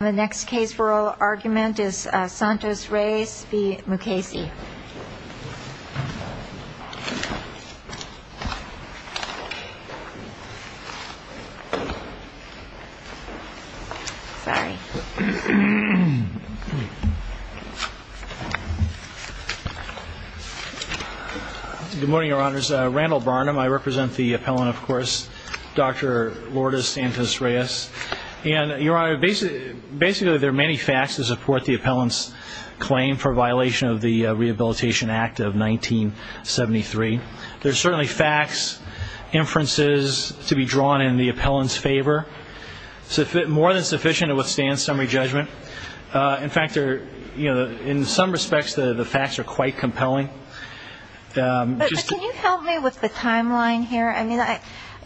The next case for oral argument is Santos-Reyes v. Mukasey. Good morning, your honors. Randall Barnum. I represent the appellant, of course, Dr. Lourdes Santos-Reyes. And, your honor, basically there are many facts to support the appellant's claim for violation of the Rehabilitation Act of 1973. There's certainly facts, inferences to be drawn in the appellant's favor. More than sufficient to withstand summary judgment. In fact, in some respects, the facts are quite compelling. But can you help me with the timeline here? I mean,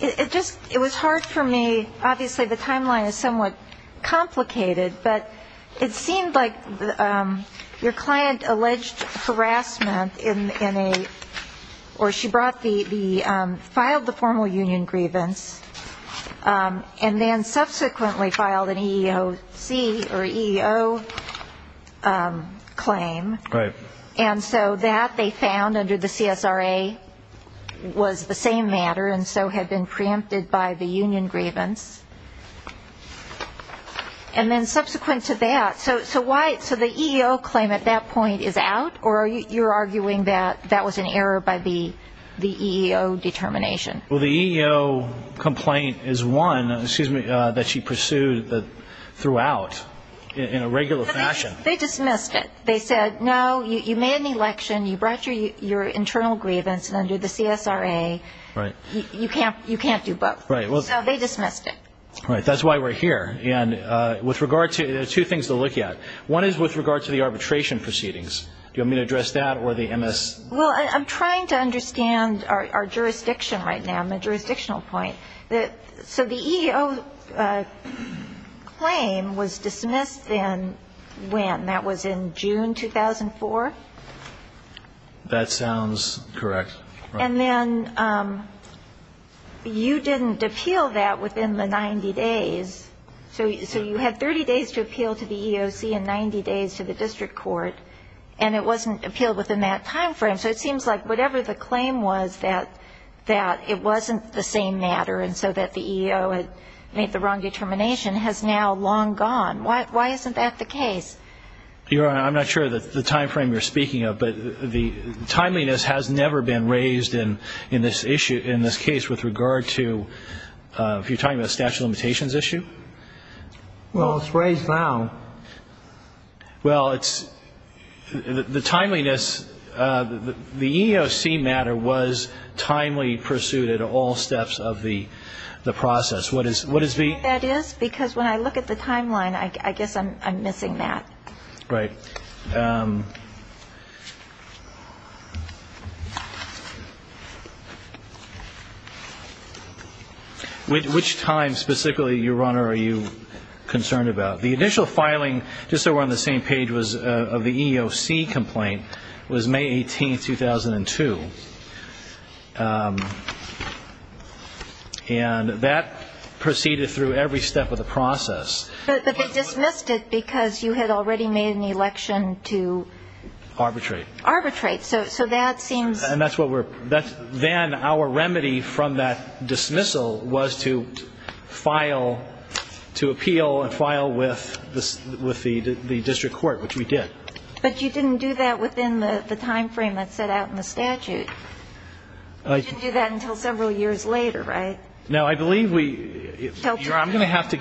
it was hard for me, obviously the timeline is somewhat complicated, but it seemed like your client alleged harassment in a, or she brought the, filed the formal union grievance, and then subsequently filed an EEOC or EEO claim. Right. And so that they found under the CSRA was the same matter, and so had been preempted by the union grievance. And then subsequent to that, so why, so the EEO claim at that point is out, or you're arguing that that was an error by the EEO determination? Well, the EEO complaint is one, excuse me, that she pursued throughout in a regular fashion. They dismissed it. They said, no, you made an election, you brought your internal grievance, and under the CSRA you can't do both. Right. So they dismissed it. Right. That's why we're here. And with regard to, there are two things to look at. One is with regard to the arbitration proceedings. Do you want me to address that or the MS? Well, I'm trying to understand our jurisdiction right now, my jurisdictional point. So the EEO claim was dismissed then when? That was in June 2004? That sounds correct. And then you didn't appeal that within the 90 days. So you had 30 days to appeal to the EEOC and 90 days to the district court, and it wasn't appealed within that time frame. So it seems like whatever the claim was that it wasn't the same matter and so that the EEO had made the wrong determination has now long gone. Why isn't that the case? Your Honor, I'm not sure of the time frame you're speaking of, but the timeliness has never been raised in this case with regard to, if you're talking about a statute of limitations issue. Well, it's raised now. Well, it's the timeliness. The EEOC matter was timely pursued at all steps of the process. What is the? Because when I look at the timeline, I guess I'm missing that. Right. Which time specifically, Your Honor, are you concerned about? The initial filing, just so we're on the same page, of the EEOC complaint was May 18, 2002. And that proceeded through every step of the process. But they dismissed it because you had already made an election to? Arbitrate. Arbitrate. So that seems. Then our remedy from that dismissal was to file, to appeal and file with the district court, which we did. But you didn't do that within the time frame that's set out in the statute. You didn't do that until several years later, right? No, I believe we. I'm going to have to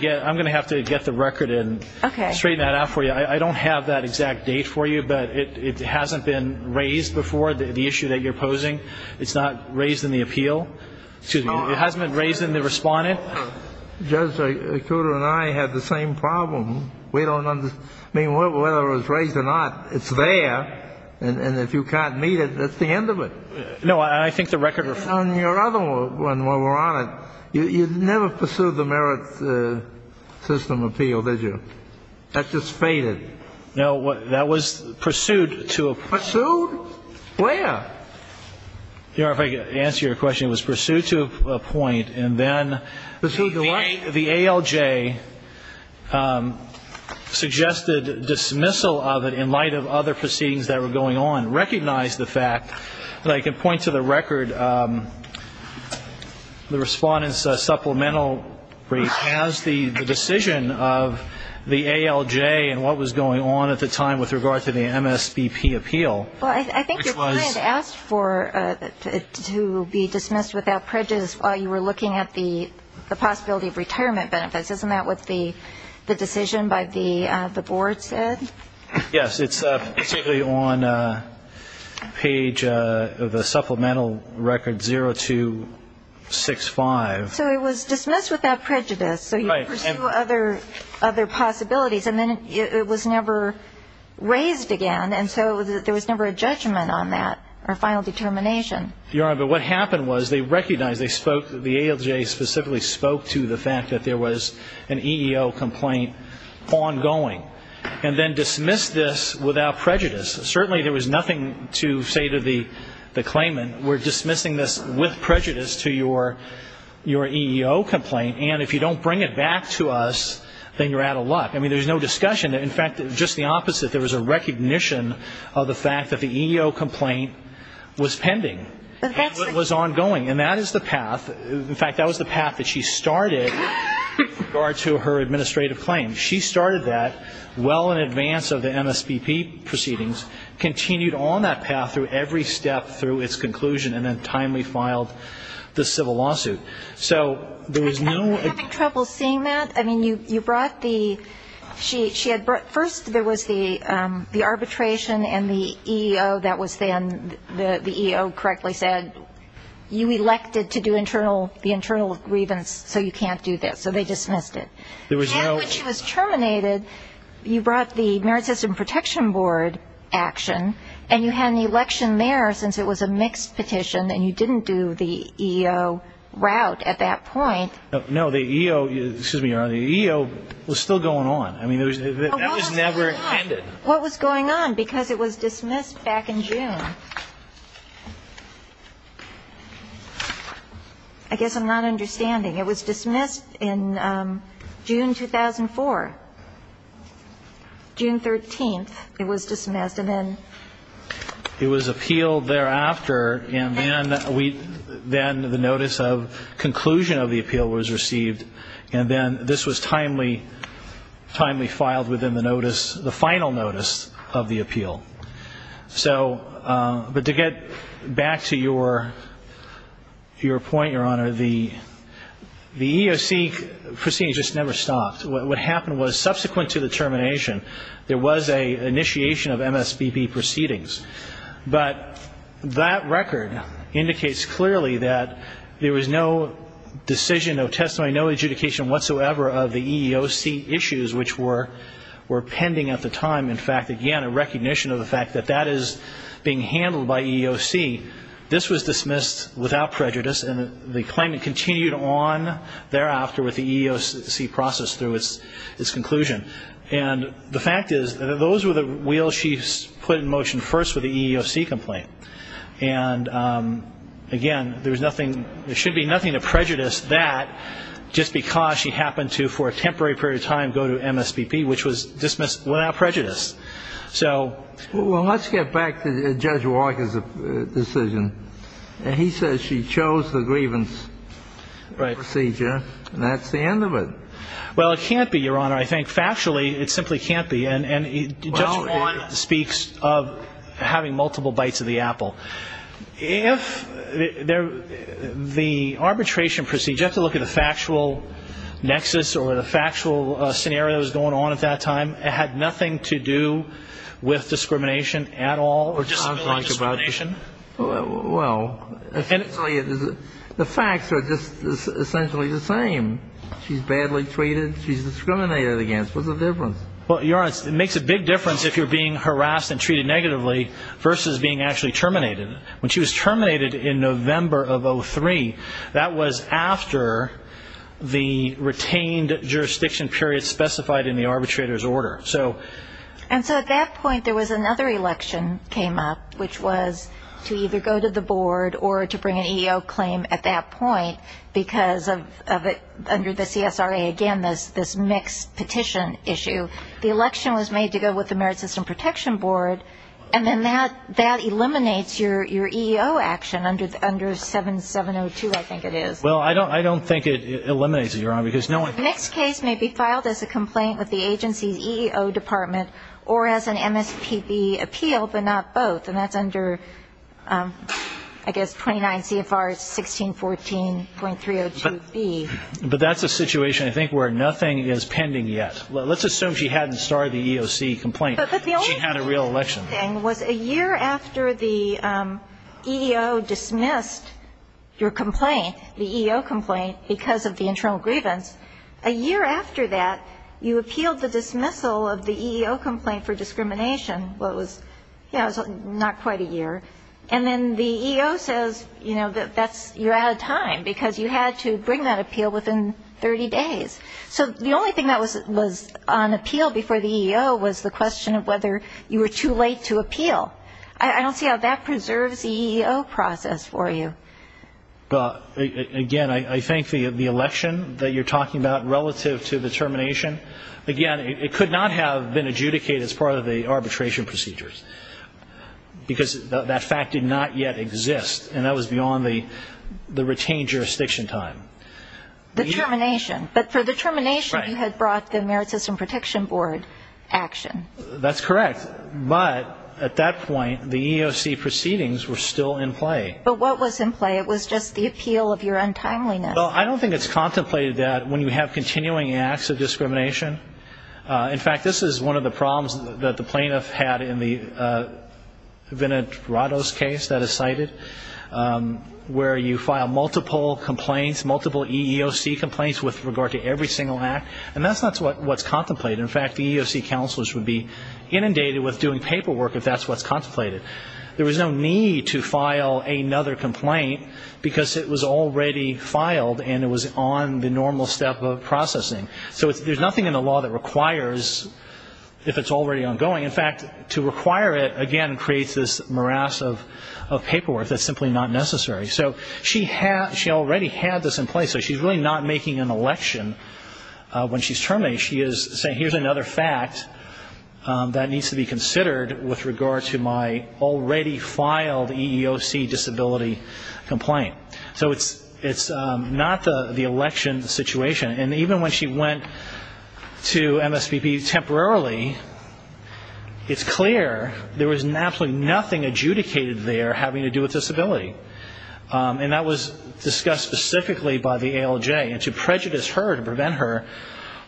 get the record and straighten that out for you. I don't have that exact date for you, but it hasn't been raised before, the issue that you're posing. It's not raised in the appeal. Excuse me. It hasn't been raised in the respondent. Judge, Koter and I had the same problem. We don't understand. I mean, whether it was raised or not, it's there. And if you can't meet it, that's the end of it. No, I think the record. On your other one, Your Honor, you never pursued the merit system appeal, did you? That just faded. No. That was pursued to a point. Pursued? Where? Your Honor, if I could answer your question, it was pursued to a point. And then the ALJ suggested dismissal of it in light of other proceedings that were going on, recognized the fact that I can point to the record, the Respondent's supplemental as the decision of the ALJ and what was going on at the time with regard to the MSBP appeal. Well, I think your client asked for it to be dismissed without prejudice while you were looking at the possibility of retirement benefits. Isn't that what the decision by the board said? Yes. It's particularly on page of the supplemental record 0265. So it was dismissed without prejudice. So you pursue other possibilities. And then it was never raised again, and so there was never a judgment on that or a final determination. Your Honor, but what happened was they recognized, the ALJ specifically spoke to the fact that there was an EEO complaint ongoing and then dismissed this without prejudice. Certainly there was nothing to say to the claimant, we're dismissing this with prejudice to your EEO complaint, and if you don't bring it back to us, then you're out of luck. I mean, there's no discussion. In fact, just the opposite, there was a recognition of the fact that the EEO complaint was pending, was ongoing. And that is the path. In fact, that was the path that she started with regard to her administrative claim. She started that well in advance of the MSBP proceedings, continued on that path through every step through its conclusion, and then timely filed the civil lawsuit. So there was no ---- Were you having trouble seeing that? I mean, you brought the ---- First there was the arbitration and the EEO that was then, the EEO correctly said, you elected to do the internal grievance, so you can't do this. So they dismissed it. And when she was terminated, you brought the Merit System Protection Board action, and you had an election there since it was a mixed petition, and you didn't do the EEO route at that point. No, the EEO was still going on. That was never ended. What was going on? Because it was dismissed back in June. I guess I'm not understanding. It was dismissed in June 2004. June 13th it was dismissed, and then ---- It was appealed thereafter, and then the notice of conclusion of the appeal was received, and then this was timely filed within the final notice of the appeal. So, but to get back to your point, Your Honor, the EEOC proceedings just never stopped. What happened was subsequent to the termination, there was an initiation of MSBB proceedings. But that record indicates clearly that there was no decision, no testimony, no adjudication whatsoever of the EEOC issues which were pending at the time. In fact, again, a recognition of the fact that that is being handled by EEOC. This was dismissed without prejudice, and the claimant continued on thereafter with the EEOC process through its conclusion. And the fact is that those were the wheels she put in motion first with the EEOC complaint. And, again, there was nothing ---- there should be nothing to prejudice that just because she happened to, for a temporary period of time, go to MSBB, which was dismissed without prejudice. So ---- Well, let's get back to Judge Walker's decision. He says she chose the grievance procedure, and that's the end of it. Well, it can't be, Your Honor. I think factually it simply can't be. And Judge Juan speaks of having multiple bites of the apple. If the arbitration procedure, just to look at the factual nexus or the factual scenarios going on at that time, it had nothing to do with discrimination at all or disability discrimination? Well, the facts are just essentially the same. She's badly treated. She's discriminated against. What's the difference? Well, Your Honor, it makes a big difference if you're being harassed and treated negatively versus being actually terminated. When she was terminated in November of 2003, that was after the retained jurisdiction period specified in the arbitrator's order. So ---- And so at that point there was another election came up, which was to either go to the board or to bring an EO claim at that point, because of it under the CSRA, again, this mixed petition issue. The election was made to go with the Merit System Protection Board, and then that eliminates your EEO action under 7702, I think it is. Well, I don't think it eliminates it, Your Honor, because no one ---- The next case may be filed as a complaint with the agency's EEO department or as an MSPB appeal, but not both. And that's under, I guess, 29 CFR 1614.302B. But that's a situation, I think, where nothing is pending yet. Let's assume she hadn't started the EOC complaint. She had a real election. But the only thing was a year after the EEO dismissed your complaint, the EEO complaint, because of the internal grievance, a year after that you appealed the dismissal of the EEO complaint for discrimination. Well, it was not quite a year. And then the EEO says, you know, you're out of time, because you had to bring that appeal within 30 days. So the only thing that was on appeal before the EEO was the question of whether you were too late to appeal. I don't see how that preserves the EEO process for you. Again, I think the election that you're talking about relative to the termination, again, it could not have been adjudicated as part of the arbitration procedures, because that fact did not yet exist. And that was beyond the retained jurisdiction time. The termination. But for the termination, you had brought the Merit System Protection Board action. That's correct. But at that point, the EEOC proceedings were still in play. But what was in play? It was just the appeal of your untimeliness. Well, I don't think it's contemplated that when you have continuing acts of discrimination. In fact, this is one of the problems that the plaintiff had in the Vinod Rados case that is cited, where you file multiple complaints, multiple EEOC complaints with regard to every single act. And that's not what's contemplated. In fact, the EEOC counselors would be inundated with doing paperwork if that's what's contemplated. There was no need to file another complaint, because it was already filed and it was on the normal step of processing. So there's nothing in the law that requires, if it's already ongoing. In fact, to require it, again, creates this morass of paperwork. That's simply not necessary. So she already had this in place, so she's really not making an election. When she's terminating, she is saying, here's another fact that needs to be considered with regard to my already filed EEOC disability complaint. So it's not the election situation. And even when she went to MSPP temporarily, it's clear there was absolutely nothing adjudicated there having to do with disability. And that was discussed specifically by the ALJ. And to prejudice her, to prevent her,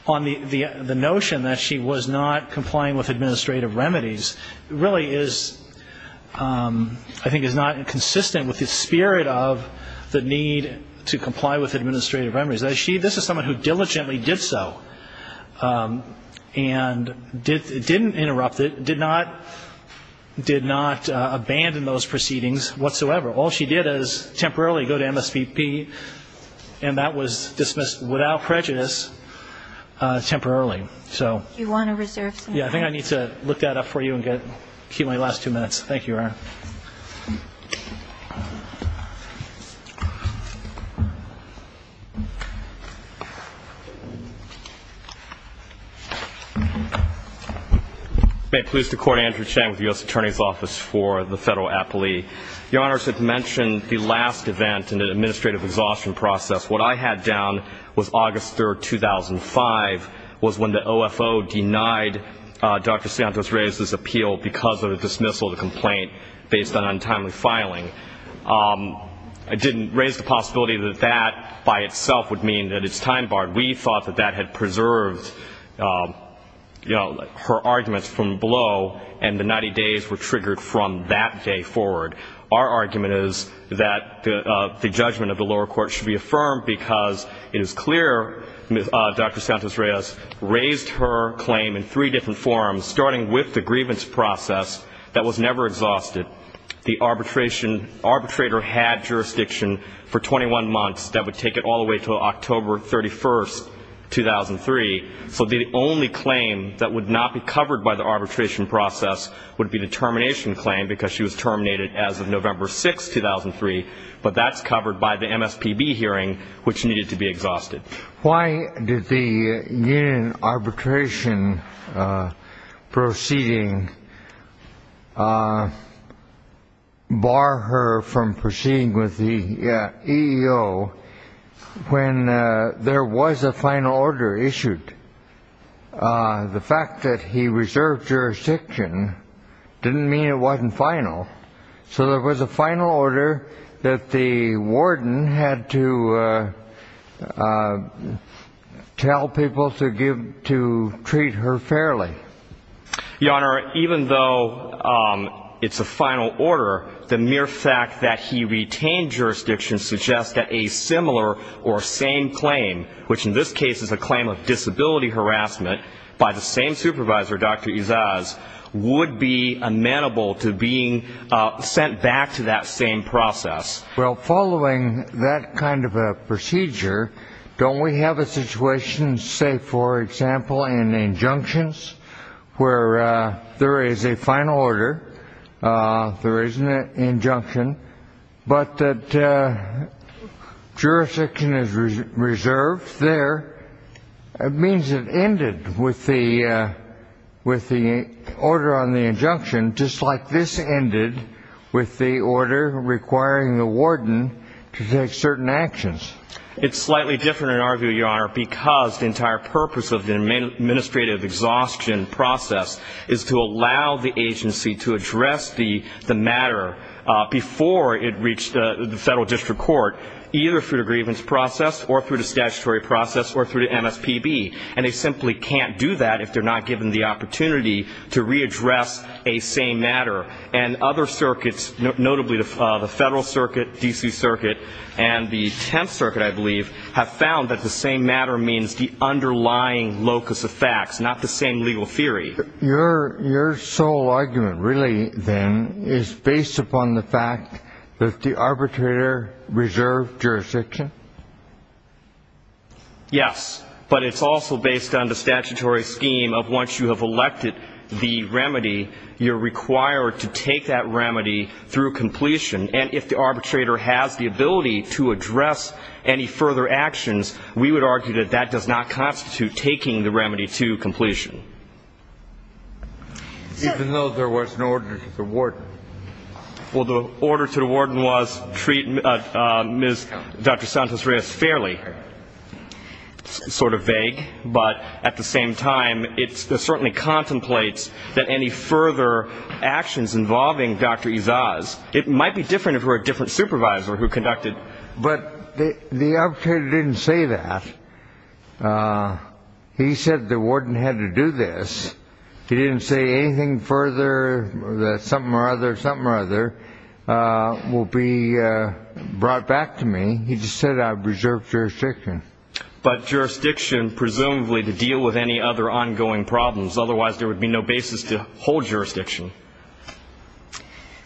on the notion that she was not complying with administrative remedies really is, I think, is not consistent with the spirit of the need to comply with administrative remedies. This is someone who diligently did so and didn't interrupt it, did not abandon those proceedings whatsoever. All she did is temporarily go to MSPP, and that was dismissed without prejudice temporarily. Do you want to reserve some time? Yeah, I think I need to look that up for you and keep my last two minutes. Thank you, Ryan. May it please the Court, Andrew Chang with the U.S. Attorney's Office for the Federal Appellee. Your Honors, at the mention of the last event in the administrative exhaustion process, what I had down was August 3, 2005 was when the OFO denied Dr. Santos Reyes' appeal because of a dismissal of the complaint based on untimely filing. I didn't raise the possibility that that by itself would mean that it's time-barred. We thought that that had preserved her arguments from below, and the 90 days were triggered from that day forward. Our argument is that the judgment of the lower court should be affirmed because it is clear Dr. Santos Reyes raised her claim in three different forms, starting with the grievance process that was never exhausted. The arbitrator had jurisdiction for 21 months. That would take it all the way to October 31, 2003. So the only claim that would not be covered by the arbitration process would be the termination claim because she was terminated as of November 6, 2003, but that's covered by the MSPB hearing, which needed to be exhausted. Why did the union arbitration proceeding bar her from proceeding with the EEO when there was a final order issued? The fact that he reserved jurisdiction didn't mean it wasn't final. So there was a final order that the warden had to tell people to give to treat her fairly. Your Honor, even though it's a final order, the mere fact that he retained jurisdiction suggests that a similar or same claim, which in this case is a claim of disability harassment by the same supervisor, Dr. Izaz, would be amenable to being sent back to that same process. Well, following that kind of a procedure, don't we have a situation, say, for example, in injunctions where there is a final order, there is an injunction, but that jurisdiction is reserved there, it means it ended with the order on the injunction, just like this ended with the order requiring the warden to take certain actions. It's slightly different in our view, Your Honor, because the entire purpose of the administrative exhaustion process is to allow the agency to address the matter before it reached the federal district court, either through the grievance process or through the statutory process or through the MSPB. And they simply can't do that if they're not given the opportunity to readdress a same matter. And other circuits, notably the Federal Circuit, D.C. Circuit, and the Tenth Circuit, I believe, have found that the same matter means the underlying locus of facts, not the same legal theory. Your sole argument, really, then, is based upon the fact that the arbitrator reserved jurisdiction? Yes, but it's also based on the statutory scheme of once you have elected the remedy, you're required to take that remedy through completion. And if the arbitrator has the ability to address any further actions, we would argue that that does not constitute taking the remedy to completion. Even though there was an order to the warden? Well, the order to the warden was treat Dr. Santos-Reyes fairly, sort of vague, but at the same time it certainly contemplates that any further actions involving Dr. Izaas, it might be different if it were a different supervisor who conducted. But the arbitrator didn't say that. He said the warden had to do this. He didn't say anything further, that something or other, something or other, will be brought back to me. He just said I reserved jurisdiction. But jurisdiction, presumably, to deal with any other ongoing problems. Otherwise, there would be no basis to hold jurisdiction.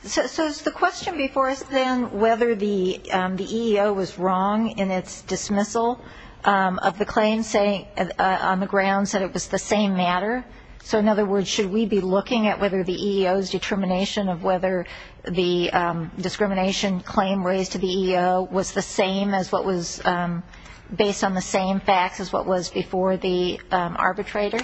So is the question before us then whether the EEO was wrong in its dismissal of the claim, saying on the grounds that it was the same matter? So, in other words, should we be looking at whether the EEO's determination of whether the discrimination claim raised to the EEO was the same as what was based on the same facts as what was before the arbitrator?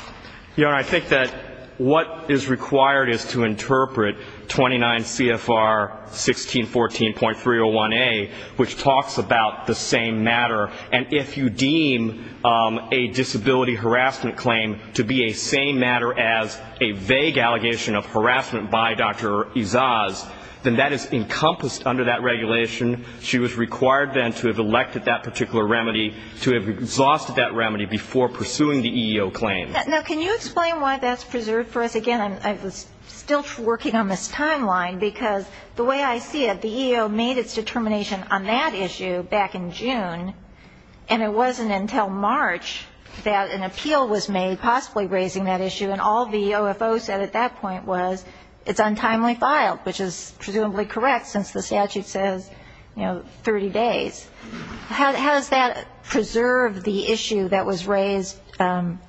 Your Honor, I think that what is required is to interpret 29 CFR 1614.301A, which talks about the same matter. And if you deem a disability harassment claim to be a same matter as a vague allegation of harassment by Dr. Izaas, then that is encompassed under that regulation. She was required then to have elected that particular remedy, to have exhausted that remedy before pursuing the EEO claim. Now, can you explain why that's preserved for us? Again, I was still twerking on this timeline because the way I see it, the EEO made its determination on that issue back in June, and it wasn't until March that an appeal was made possibly raising that issue, and all the OFO said at that point was it's untimely filed, which is presumably correct since the statute says, you know, 30 days. How does that preserve the issue that was raised or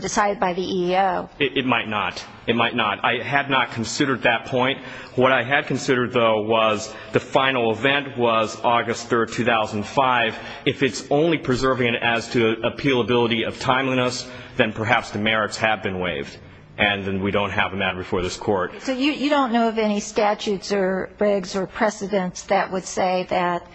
decided by the EEO? It might not. It might not. I had not considered that point. What I had considered, though, was the final event was August 3, 2005. If it's only preserving it as to appealability of timeliness, then perhaps the merits have been waived, and then we don't have a matter before this Court. So you don't know of any statutes or regs or precedents that would say that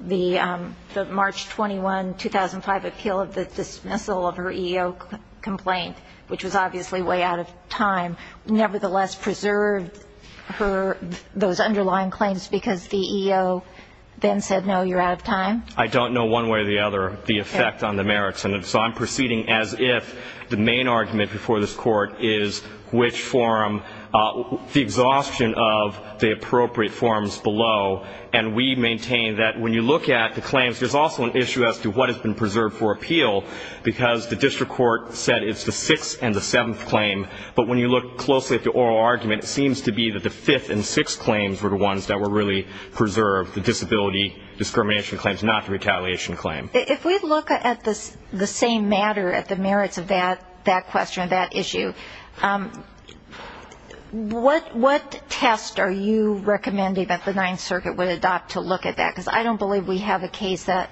the March 21, 2005, appeal of the dismissal of her EEO complaint, which was obviously way out of time, nevertheless preserved those underlying claims because the EEO then said, no, you're out of time? I don't know one way or the other the effect on the merits, and so I'm proceeding as if the main argument before this Court is which forum, the exhaustion of the appropriate forums below, and we maintain that when you look at the claims there's also an issue as to what has been preserved for appeal because the district court said it's the sixth and the seventh claim, but when you look closely at the oral argument, it seems to be that the fifth and sixth claims were the ones that were really preserved, the disability discrimination claims, not the retaliation claim. If we look at the same matter, at the merits of that question, that issue, what test are you recommending that the Ninth Circuit would adopt to look at that? Because I don't believe we have a case that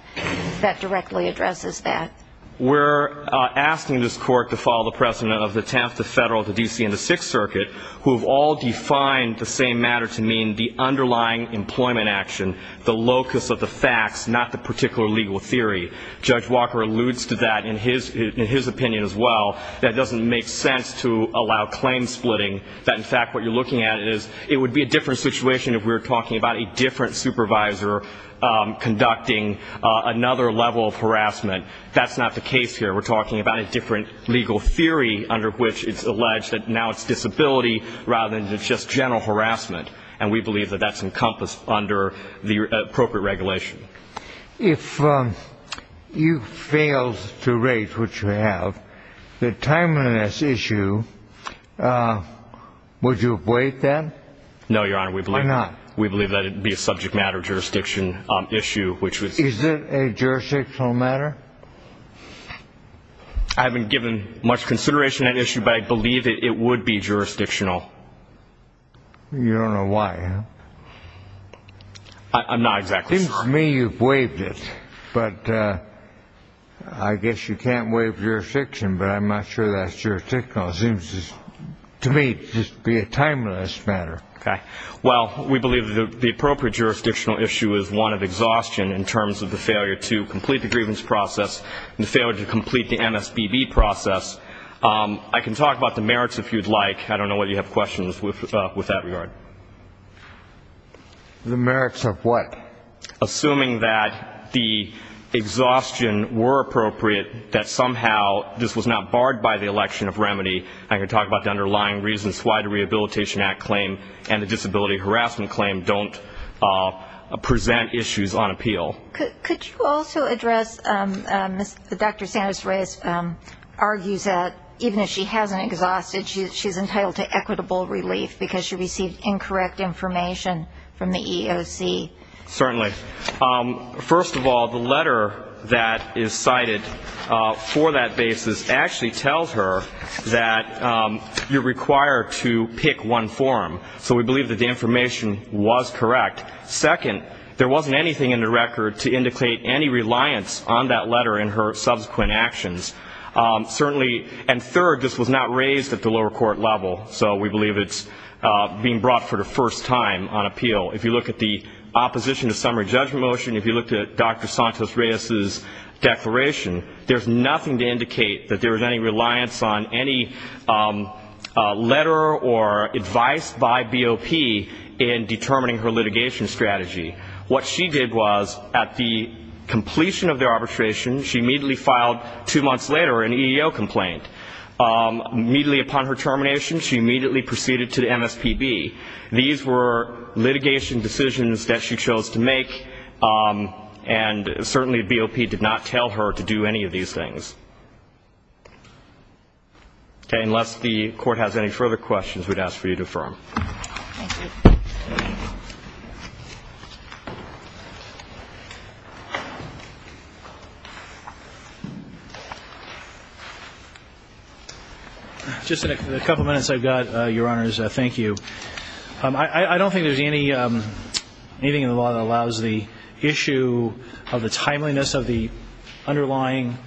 directly addresses that. We're asking this Court to follow the precedent of the tenth, the federal, the D.C., and the sixth circuit, who have all defined the same matter to mean the underlying employment action, the locus of the facts, not the particular legal theory. Judge Walker alludes to that in his opinion as well, that it doesn't make sense to allow claim splitting, that in fact what you're looking at is it would be a different situation if we were talking about a different supervisor conducting another level of harassment. That's not the case here. We're talking about a different legal theory under which it's alleged that now it's disability rather than just general harassment, and we believe that that's encompassed under the appropriate regulation. If you failed to raise what you have, the timeliness issue, would you avoid that? No, Your Honor. Why not? We believe that it would be a subject matter jurisdiction issue. Is it a jurisdictional matter? I haven't given much consideration to that issue, but I believe it would be jurisdictional. You don't know why, huh? I'm not exactly sure. It seems to me you've waived it, but I guess you can't waive jurisdiction, but I'm not sure that's jurisdictional. It seems to me to just be a timeless matter. Okay. Well, we believe that the appropriate jurisdictional issue is one of exhaustion in terms of the failure to complete the grievance process and the failure to complete the MSBB process. I can talk about the merits if you'd like. I don't know whether you have questions with that regard. The merits of what? Assuming that the exhaustion were appropriate, that somehow this was not barred by the election of remedy. I can talk about the underlying reasons why the Rehabilitation Act claim and the Disability Harassment Claim don't present issues on appeal. Could you also address Dr. Sanders-Reyes argues that even if she hasn't exhausted, she's entitled to equitable relief because she received incorrect information from the EEOC? Certainly. First of all, the letter that is cited for that basis actually tells her that you're required to pick one form. So we believe that the information was correct. Second, there wasn't anything in the record to indicate any reliance on that letter in her subsequent actions. And third, this was not raised at the lower court level, so we believe it's being brought for the first time on appeal. If you look at the opposition to summary judgment motion, if you look at Dr. Sanders-Reyes' declaration, there's nothing to indicate that there was any reliance on any letter or advice by BOP in determining her litigation strategy. What she did was at the completion of the arbitration, she immediately filed two months later an EEO complaint. Immediately upon her termination, she immediately proceeded to the MSPB. These were litigation decisions that she chose to make, and certainly BOP did not tell her to do any of these things. Okay. Unless the Court has any further questions, we'd ask for you to defer. Thank you. Just a couple minutes I've got, Your Honors. Thank you. I don't think there's anything in the law that allows the issue of the timeliness of the underlying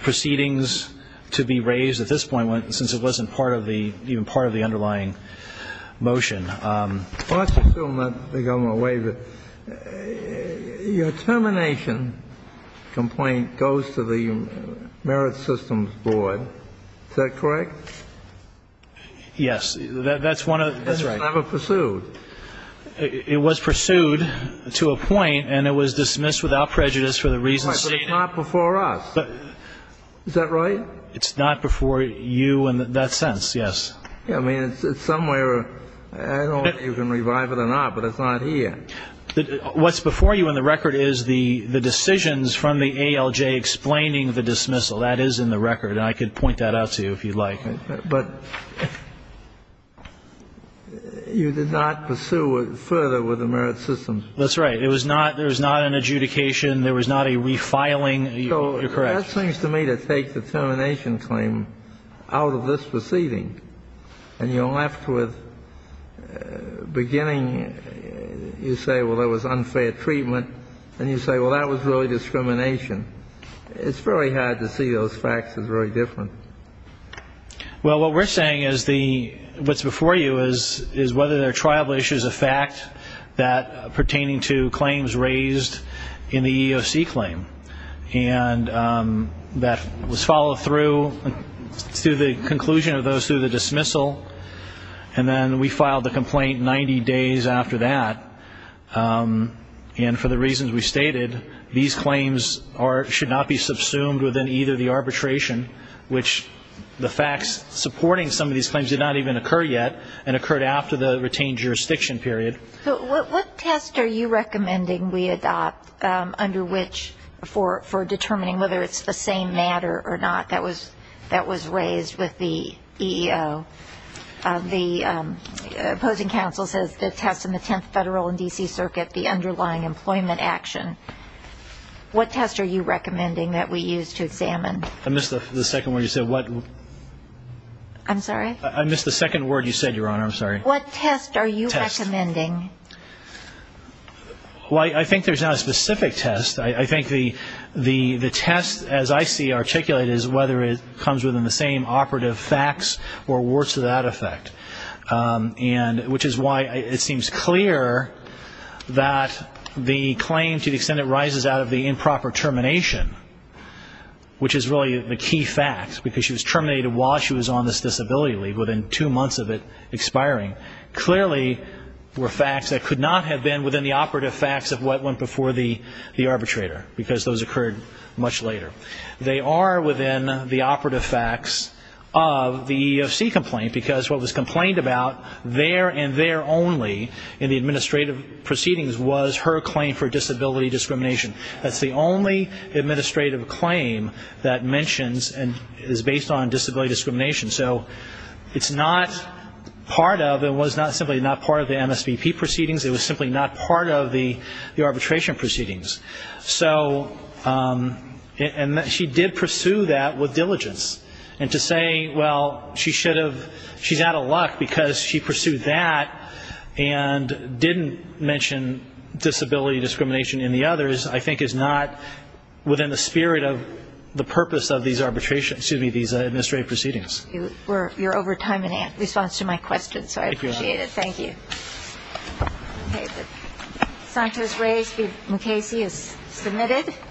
proceedings to be raised at this point, since it wasn't part of the underlying motion. Well, let's assume that the government waived it. Your termination complaint goes to the Merit Systems Board. Is that correct? That's one of the things. That's right. It was never pursued. It was pursued to a point, and it was dismissed without prejudice for the reasons stated. But it's not before us. Is that right? It's not before you in that sense, yes. I mean, it's somewhere. I don't know if you can revive it or not, but it's not here. What's before you in the record is the decisions from the ALJ explaining the dismissal. That is in the record, and I could point that out to you if you'd like. But you did not pursue it further with the Merit Systems Board. That's right. There was not an adjudication. There was not a refiling. You're correct. So that seems to me to take the termination claim out of this proceeding, and you're left with beginning, you say, well, it was unfair treatment, and you say, well, that was really discrimination. It's very hard to see those facts as very different. Well, what we're saying is the what's before you is whether there are tribal issues of fact that pertaining to claims raised in the EEOC claim. And that was followed through to the conclusion of those through the dismissal, and then we filed the complaint 90 days after that. And for the reasons we stated, these claims should not be subsumed within either the facts supporting some of these claims did not even occur yet and occurred after the retained jurisdiction period. What test are you recommending we adopt under which for determining whether it's the same matter or not that was raised with the EEO? The opposing counsel says the test in the 10th Federal and D.C. Circuit, the underlying employment action. What test are you recommending that we use to examine? I missed the second word you said. What? I'm sorry? I missed the second word you said, Your Honor. I'm sorry. What test are you recommending? Well, I think there's not a specific test. I think the test, as I see articulated, is whether it comes within the same operative facts or works to that effect. And which is why it seems clear that the claim to the extent it rises out of the facts, because she was terminated while she was on this disability leave, within two months of it expiring, clearly were facts that could not have been within the operative facts of what went before the arbitrator, because those occurred much later. They are within the operative facts of the EEOC complaint, because what was complained about there and there only in the administrative proceedings was her claim for disability discrimination. That's the only administrative claim that mentions and is based on disability discrimination. So it's not part of and was not simply not part of the MSVP proceedings. It was simply not part of the arbitration proceedings. And she did pursue that with diligence. And to say, well, she's out of luck because she pursued that and didn't mention disability discrimination in the others, I think is not within the spirit of the purpose of these arbitrations, excuse me, these administrative proceedings. You're over time in response to my question, so I appreciate it. Thank you. Okay. Sanchez-Reyes v. Mukasey is submitted.